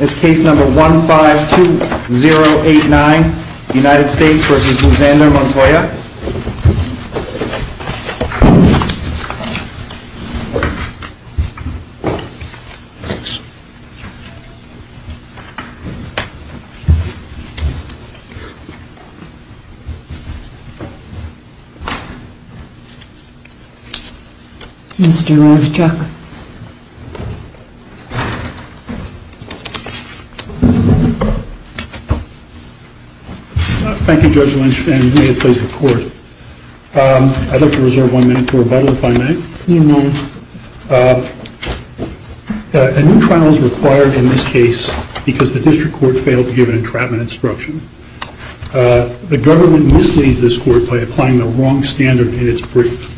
is case number 152089 United States v. Alexander Montoya Mr. Ravchak Thank you Judge Lynch and may it please the court. I'd like to reserve one minute for rebuttal if I may. A new trial is required in this case because the district court failed to give an entrapment instruction. The government misleads this court by applying the wrong standard in its brief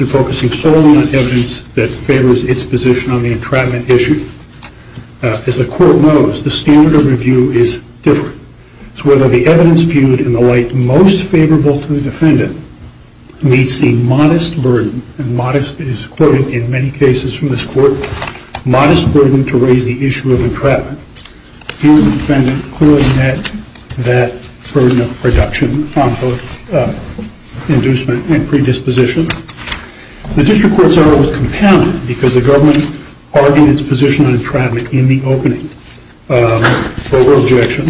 and focusing solely on evidence that favors its position on the entrapment issue. As the court knows, the standard of review is different. It's whether the evidence viewed in the light most favorable to the defendant meets the modest burden and modest is quoted in many cases from this court, modest burden to raise the issue of entrapment. Here the defendant clearly met that burden of reduction on both inducement and predisposition. The district court's error was compounded because the government argued its position on entrapment in the opening for objection.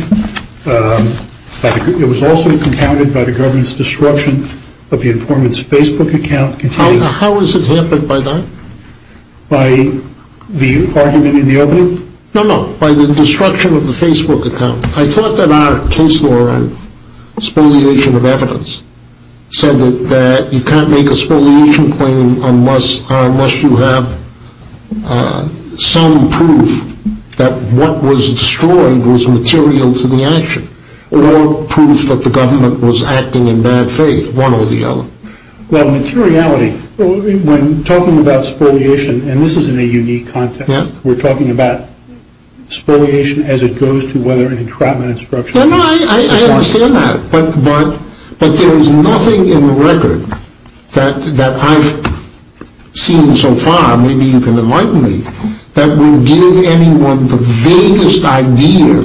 It was also compounded by the government's disruption of the informant's Facebook account. How has it happened by that? By the argument in the opening? No, no. By the destruction of the Facebook account. I thought that our case law on spoliation of evidence said that you can't make a spoliation claim unless you have some proof that what was destroyed was material to the action or proof that the government was acting in bad faith, one or the other. Well, materiality, when talking about spoliation, and this is in a unique context, we're talking about spoliation as it goes to whether an entrapment instruction... No, no, I understand that, but there is nothing in the record that I've seen so far, maybe you can enlighten me, that will give anyone the vaguest idea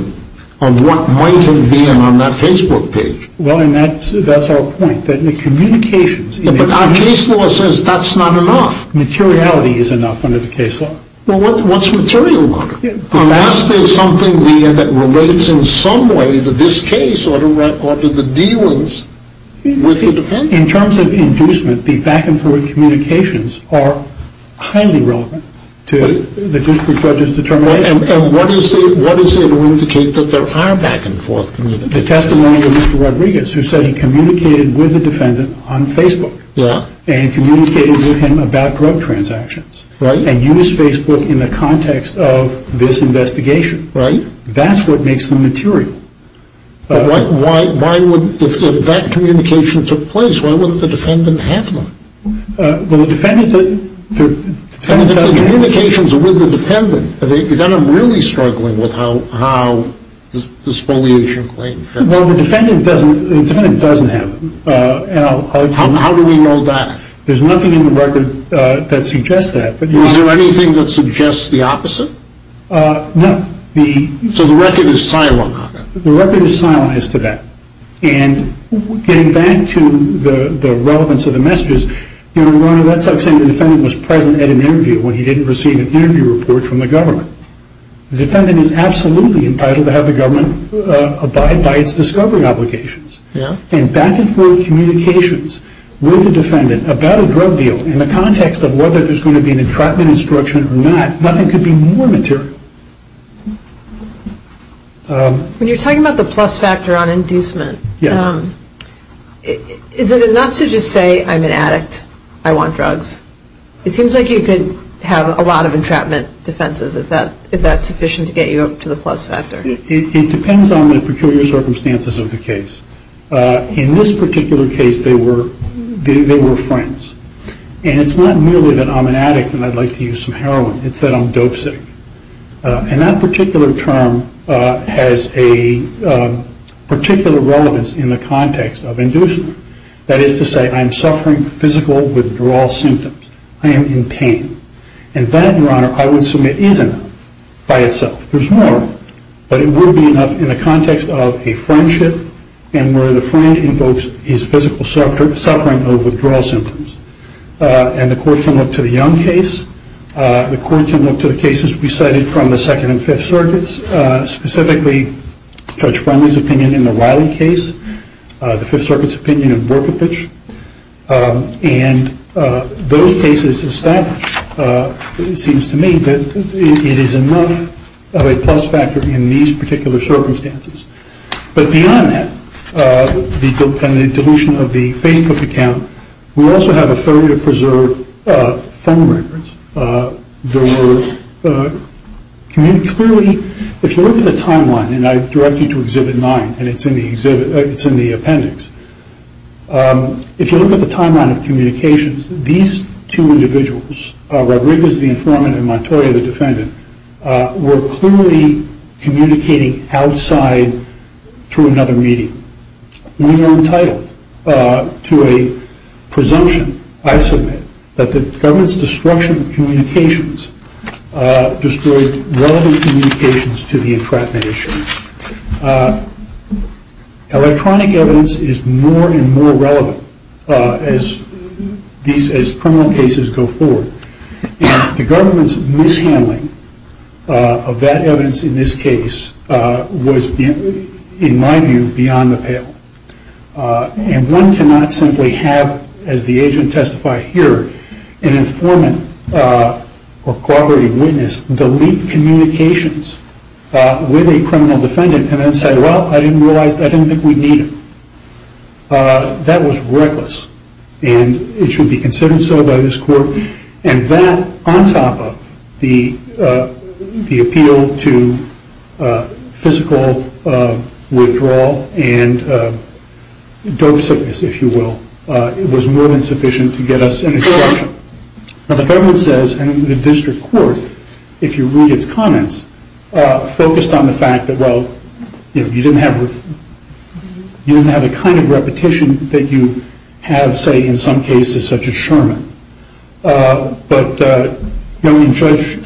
of what might have been on that Facebook page. Well, and that's our point, that the communications... But our case law says that's not enough. Materiality is enough under the case law. Well, what's material? Unless there's something there that relates in some way to this case or to the dealings with the defense. In terms of inducement, the back and forth communications are highly relevant to the district judge's determination. And what is there to indicate that there are back and forth communications? The testimony of Mr. Rodriguez, who said he communicated with the defendant on Facebook. Yeah. And communicated with him about drug transactions. Right. And used Facebook in the context of this investigation. Right. That's what makes them material. But why wouldn't, if that communication took place, why wouldn't the defendant have them? Well, the defendant... If the communications are with the defendant, then I'm really struggling with how the spoliation plays out. Well, the defendant doesn't have them. How do we know that? There's nothing in the record that suggests that. Is there anything that suggests the opposite? No. So the record is silent on that? The record is silent as to that. And getting back to the relevance of the messages, you know, that's like saying the defendant was present at an interview when he didn't receive an interview report from the government. The defendant is absolutely entitled to have the government abide by its discovery obligations. Yeah. And back and forth communications with the defendant about a drug deal in the context of whether there's going to be an entrapment instruction or not, nothing could be more material. When you're talking about the plus factor on inducement... Yes. Is it enough to just say, I'm an addict, I want drugs? It seems like you could have a lot of entrapment defenses if that's sufficient to get you up to the plus factor. It depends on the peculiar circumstances of the case. In this particular case, they were friends. And it's not merely that I'm an addict and I'd like to use some heroin. It's that I'm dope sick. And that particular term has a particular relevance in the context of inducement. That is to say, I'm suffering physical withdrawal symptoms. I am in pain. And that, Your Honor, I would submit is enough by itself. There's more, but it would be enough in the context of a friendship and where the friend invokes his physical suffering of withdrawal symptoms. And the court can look to the Young case. The court can look to the cases we cited from the Second and Fifth Circuits, specifically Judge Friendly's opinion in the Riley case, the Fifth Circuit's opinion in Borkovich. And those cases establish, it seems to me, that it is enough of a plus factor in these particular circumstances. But beyond that, and the dilution of the Facebook account, we also have a failure to preserve phone records. There were clearly, if you look at the timeline, and I direct you to the appendix, if you look at the timeline of communications, these two individuals, Rodriguez, the informant, and Montoya, the defendant, were clearly communicating outside through another medium. We were entitled to a presumption, I submit, that the government's destruction of communications destroyed relevant communications to the entrapment issue. Electronic evidence is more and more relevant as criminal cases go forward. The government's mishandling of that evidence in this case was, in my view, beyond the pale. And one cannot simply have, as the agent testified here, an informant or corroborating witness delete communications with a criminal defendant and then say, well, I didn't realize, I didn't think we'd need it. That was reckless. And it should be considered so by this court. And that, on top of the appeal to physical withdrawal and dope sickness, if you will, was more than sufficient to get us an exception. Now, the government says, and the district court, if you read its comments, focused on the fact that, well, you didn't have a kind of repetition that you have, say, in some cases, such as Sherman. But, you know, Judge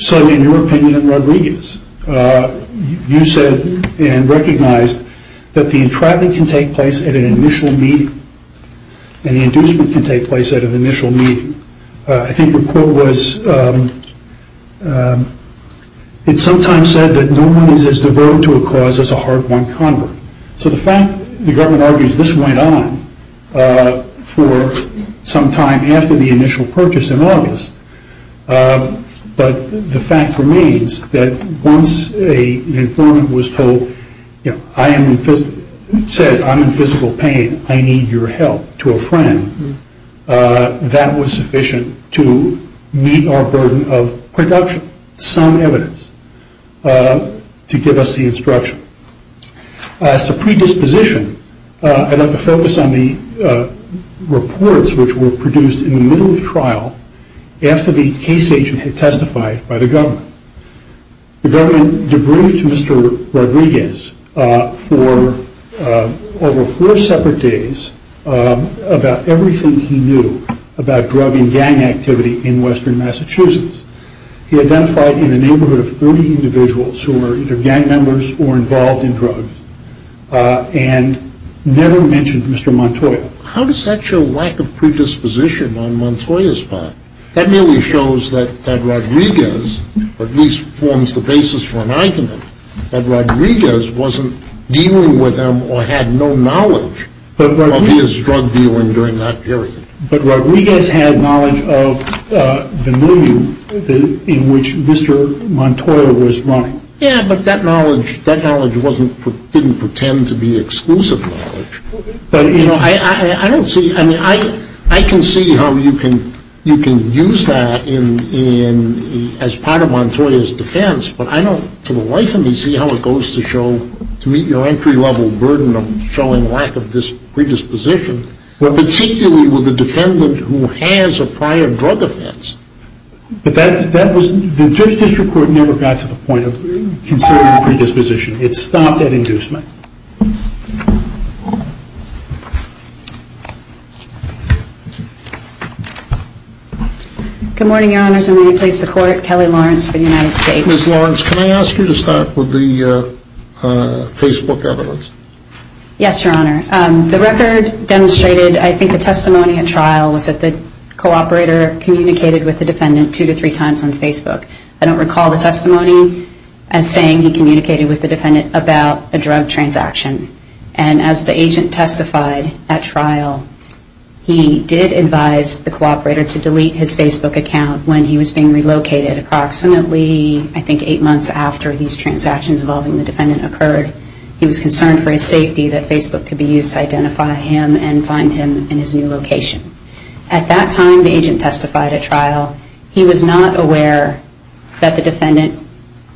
Sun, in your opinion and Rodriguez, you said and recognized that the entrapment can take place at an initial meeting and the inducement can take place at an initial meeting. I think your quote was, it sometimes said that no one is as devoted to a cause as a hard-won convert. So the fact, the government argues, this went on for some time after the initial purchase in August. But the fact remains that once an informant was told, you know, says I'm in physical pain, I need your help to a friend, that was sufficient to meet our burden of production, some evidence to give us the instruction. As to predisposition, I'd like to focus on the reports which were produced in the middle of trial after the case agent had testified by the government. The government debriefed Mr. Rodriguez for over four separate days about everything he knew about drug and gang activity in western Massachusetts. He identified in a neighborhood of 30 individuals who were either gang members or involved in drugs and never mentioned Mr. Montoya. So how does that show lack of predisposition on Montoya's part? That merely shows that Rodriguez, or at least forms the basis for an argument, that Rodriguez wasn't dealing with him or had no knowledge of his drug dealing during that period. But Rodriguez had knowledge of the movie in which Mr. Montoya was running. Yeah, but that knowledge didn't pretend to be exclusive knowledge. I don't see, I mean, I can see how you can use that as part of Montoya's defense, but I don't for the life of me see how it goes to show, to meet your entry level burden of showing lack of predisposition, particularly with a defendant who has a prior drug offense. But that was, the district court never got to the point of considering predisposition. It stopped at inducement. Good morning, your honors, and may I please have the court, Kelly Lawrence for the United States. Ms. Lawrence, can I ask you to start with the Facebook evidence? Yes, your honor. The record demonstrated, I think the testimony at trial, was that the cooperator communicated with the defendant two to three times on Facebook. I don't recall the testimony as saying he communicated with the defendant about a drug transaction. And as the agent testified at trial, he did advise the cooperator to delete his Facebook account when he was being relocated approximately, I think eight months after these transactions involving the defendant occurred. He was concerned for his safety that Facebook could be used to identify him and find him in his new location. At that time, the agent testified at trial, he was not aware that the defendant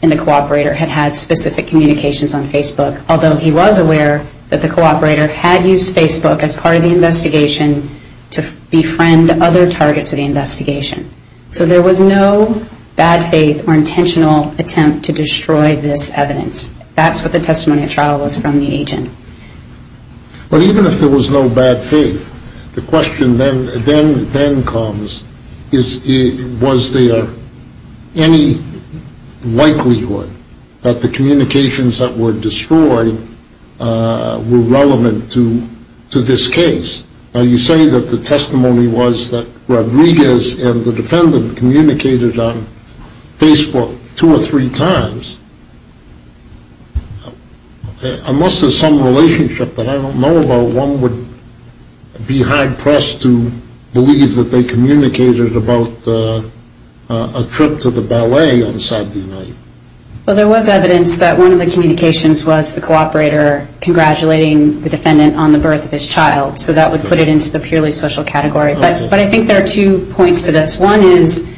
and the cooperator had had specific communications on Facebook, although he was aware that the cooperator had used Facebook as part of the investigation to befriend other targets of the investigation. So there was no bad faith or intentional attempt to destroy this evidence. That's what the testimony at trial was from the agent. But even if there was no bad faith, the question then comes, was there any likelihood that the communications that were destroyed were relevant to this case? Now you say that the testimony was that Rodriguez and the defendant communicated on Facebook two or three times. Unless there's some relationship that I don't know about, one would be hard-pressed to believe that they communicated about a trip to the ballet on Saturday night. Well, there was evidence that one of the communications was the cooperator congratulating the defendant on the birth of his child. So that would put it into the purely social category. But I think there are two points to this. One is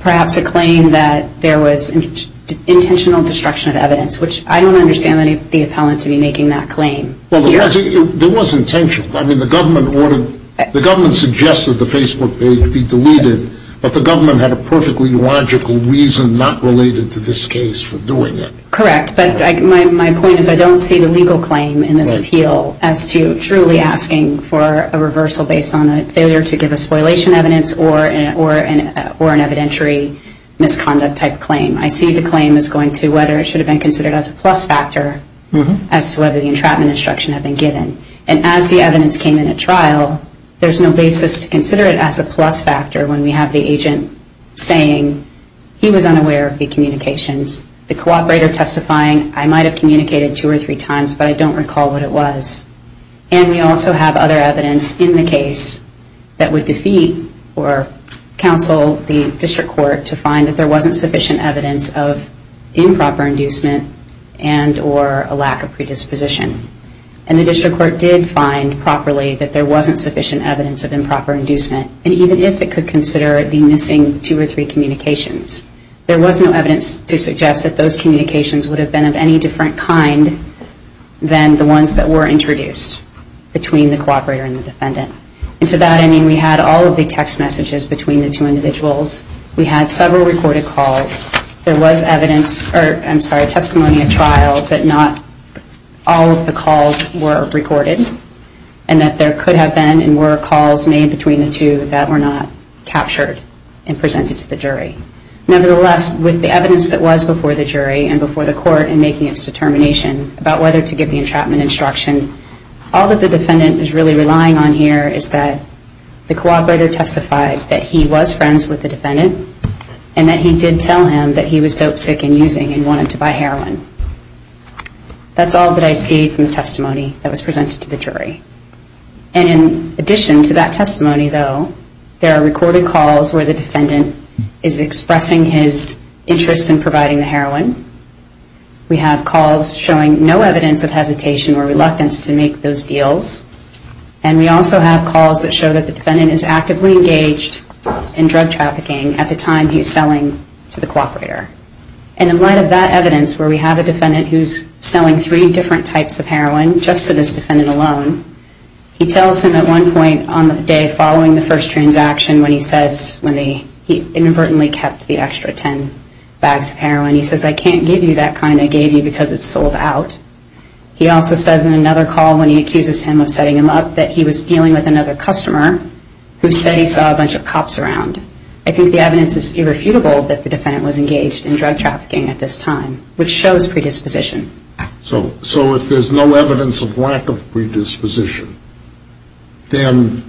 perhaps a claim that there was intentional communication or intentional destruction of evidence, which I don't understand the appellant to be making that claim. There was intention. The government suggested the Facebook page be deleted, but the government had a perfectly logical reason not related to this case for doing it. Correct. But my point is I don't see the legal claim in this appeal as to truly asking for a reversal or an evidentiary misconduct type claim. I see the claim as going to whether it should have been considered as a plus factor as to whether the entrapment instruction had been given. And as the evidence came in at trial, there's no basis to consider it as a plus factor when we have the agent saying he was unaware of the communications. The cooperator testifying, I might have communicated two or three times, but I don't recall what it was. And we also have other evidence in the case that would defeat or counsel the district court to find that there wasn't sufficient evidence of improper inducement and or a lack of predisposition. And the district court did find properly that there wasn't sufficient evidence of improper inducement. And even if it could consider the missing two or three communications, there was no evidence to suggest that those communications would have been of any different kind than the ones that were introduced between the cooperator and the defendant. And to that end, we had all of the text messages between the two individuals. We had several recorded calls. There was testimony at trial, but not all of the calls were recorded and that there could have been and were calls made between the two that were not captured and presented to the jury. Nevertheless, with the evidence that was before the jury and before the court in making its determination about whether to give the entrapment instruction, all that the defendant is really relying on here is that the cooperator testified that he was friends with the defendant and that he did tell him that he was dopesick in using and wanted to buy heroin. That's all that I see from the testimony that was presented to the jury. And in addition to that testimony, though, there are recorded calls where the defendant is expressing his interest in providing the heroin. We have calls showing no evidence of hesitation or reluctance to make those deals. And we also have calls that show that the defendant is actively engaged in drug trafficking at the time he's selling to the cooperator. And in light of that evidence, where we have a defendant who's selling three different types of heroin just to this defendant alone, he tells him at one point on the day following the first transaction when he says he inadvertently kept the extra ten bags of heroin, he says, I can't give you that kind I gave you because it's sold out. He also says in another call when he accuses him of setting him up that he was dealing with another customer who said he saw a bunch of cops around. I think the evidence is irrefutable that the defendant was engaged in drug trafficking at this time, which shows predisposition. So if there's no evidence of lack of predisposition, then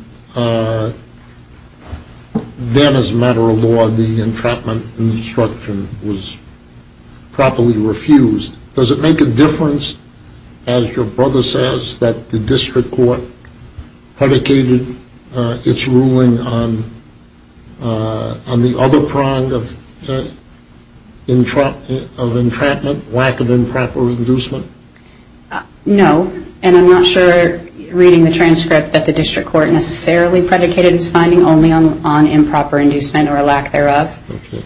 as a matter of law the entrapment and destruction was properly refused. Does it make a difference as your brother says that the district court predicated its ruling on the other prong of entrapment, lack of improper inducement? No, and I'm not sure reading the transcript that the district court necessarily predicated its finding only on improper inducement or a lack thereof.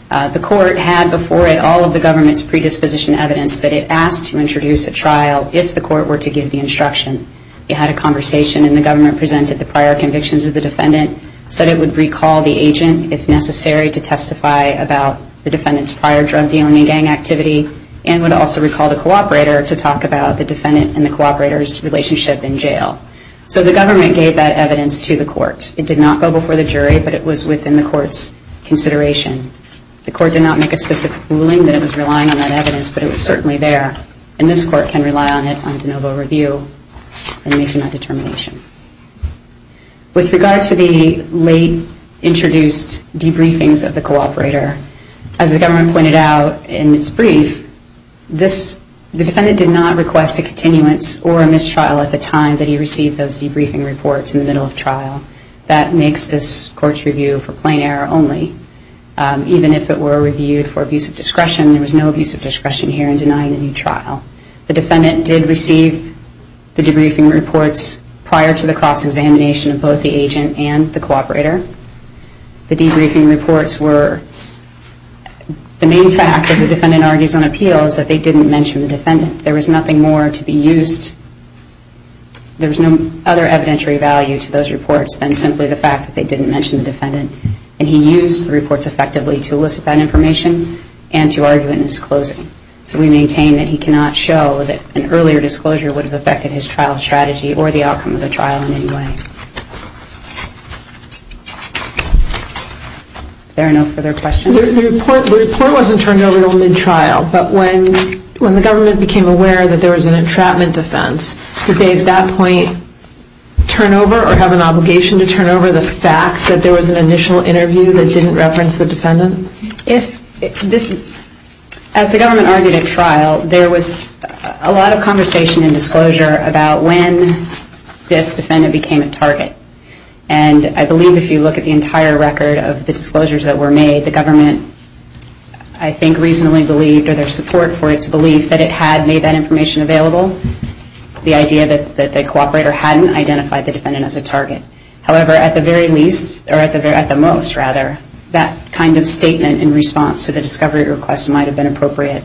The court had before it all of the government's predisposition evidence that it asked to introduce a trial if the court were to give the instruction. It had a conversation and the government presented the prior convictions of the defendant said it would recall the agent if necessary to testify about the defendant's prior drug dealing and gang activity and would also recall the cooperator to talk about the defendant and the cooperator's relationship in jail. So the government gave that evidence to the court. It did not go before the jury but it was within the court's consideration. The court did not make a specific ruling that it was relying on that evidence but it was certainly there and this court can rely on it on de novo review and make that determination. With regard to the late introduced debriefings of the cooperator as the government pointed out in its brief, the defendant did not request a continuance or a mistrial at the time that he received those debriefing reports in the middle of trial. That makes this court's review for plain error only even if it were reviewed for abuse of discretion. There was no abuse of discretion here in denying the new trial. The defendant did receive the debriefing reports prior to the cross-examination of both the agent and the cooperator. The debriefing reports were the main fact as the defendant argues on appeal is that they didn't mention the defendant. There was nothing more to be used. There was no other evidentiary value to those reports than simply the fact that they didn't mention the defendant and he used the reports effectively to elicit that information and to argue it in his closing. So we maintain that he cannot show that an earlier disclosure would have affected his trial strategy or the outcome of the trial in any way. If there are no further questions? The report wasn't turned over until mid-trial, but when the government became aware that there was an entrapment defense, did they at that point turn over or have there was an initial interview that didn't reference the defendant? As the government argued at trial, there was a lot of conversation and disclosure about when this defendant became a target. I believe if you look at the entire record of the disclosures that were made, the government I think reasonably believed or their support for its belief that it had made that information available. The idea that the cooperator hadn't identified the defendant as a target. However, at the most that kind of statement in response to the discovery request might have been appropriate.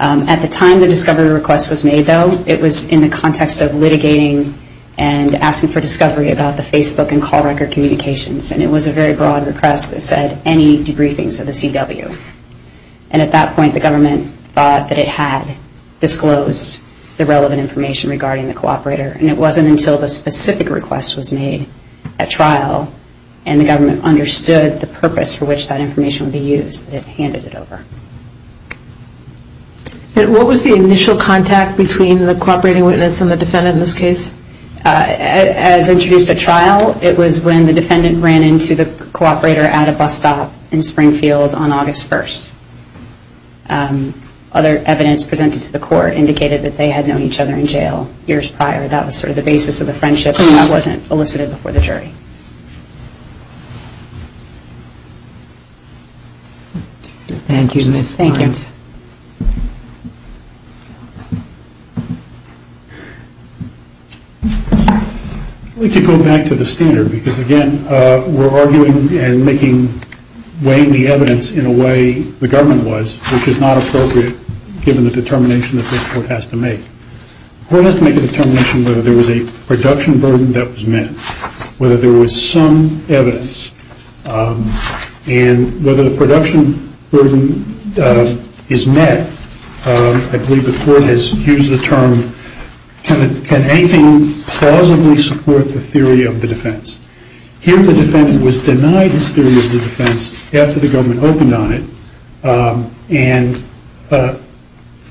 At the time the discovery request was made though, it was in the context of litigating and asking for discovery about the Facebook and call record communications and it was a very broad request that said any debriefings of the CW. And at that point the government thought that it had disclosed the relevant information regarding the cooperator and it wasn't until the specific request was made at trial and the government understood the purpose for which that information would be used that it handed it over. And what was the initial contact between the cooperating witness and the defendant in this case? As introduced at trial, it was when the defendant ran into the cooperator at a bus stop in Springfield on August 1st. Other evidence presented to the court indicated that they had known each other in jail years prior. That was sort of the basis of the friendship and that wasn't elicited before the jury. Thank you. I'd like to go back to the standard because again we're arguing and making weighing the evidence in a way the government was which is not appropriate given the determination that this court has to make. The court has to make a determination whether there was a production burden that was met. Whether there was some evidence and whether the production burden is met I believe the court has used the term can anything plausibly support the theory of the defense? Here the defendant was denied his theory of the defense after the government opened on it and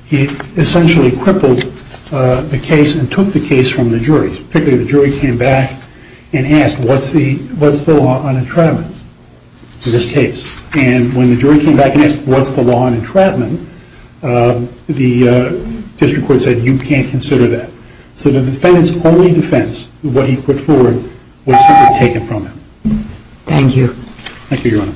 he essentially crippled the case and took the case from the jury. The jury came back and asked what's the law on entrapment in this case? And when the jury came back and asked what's the law on entrapment the district court said you can't consider that. So the defendants only defense what he put forward was simply taken from him. Thank you. Thank you your honor. Thank you.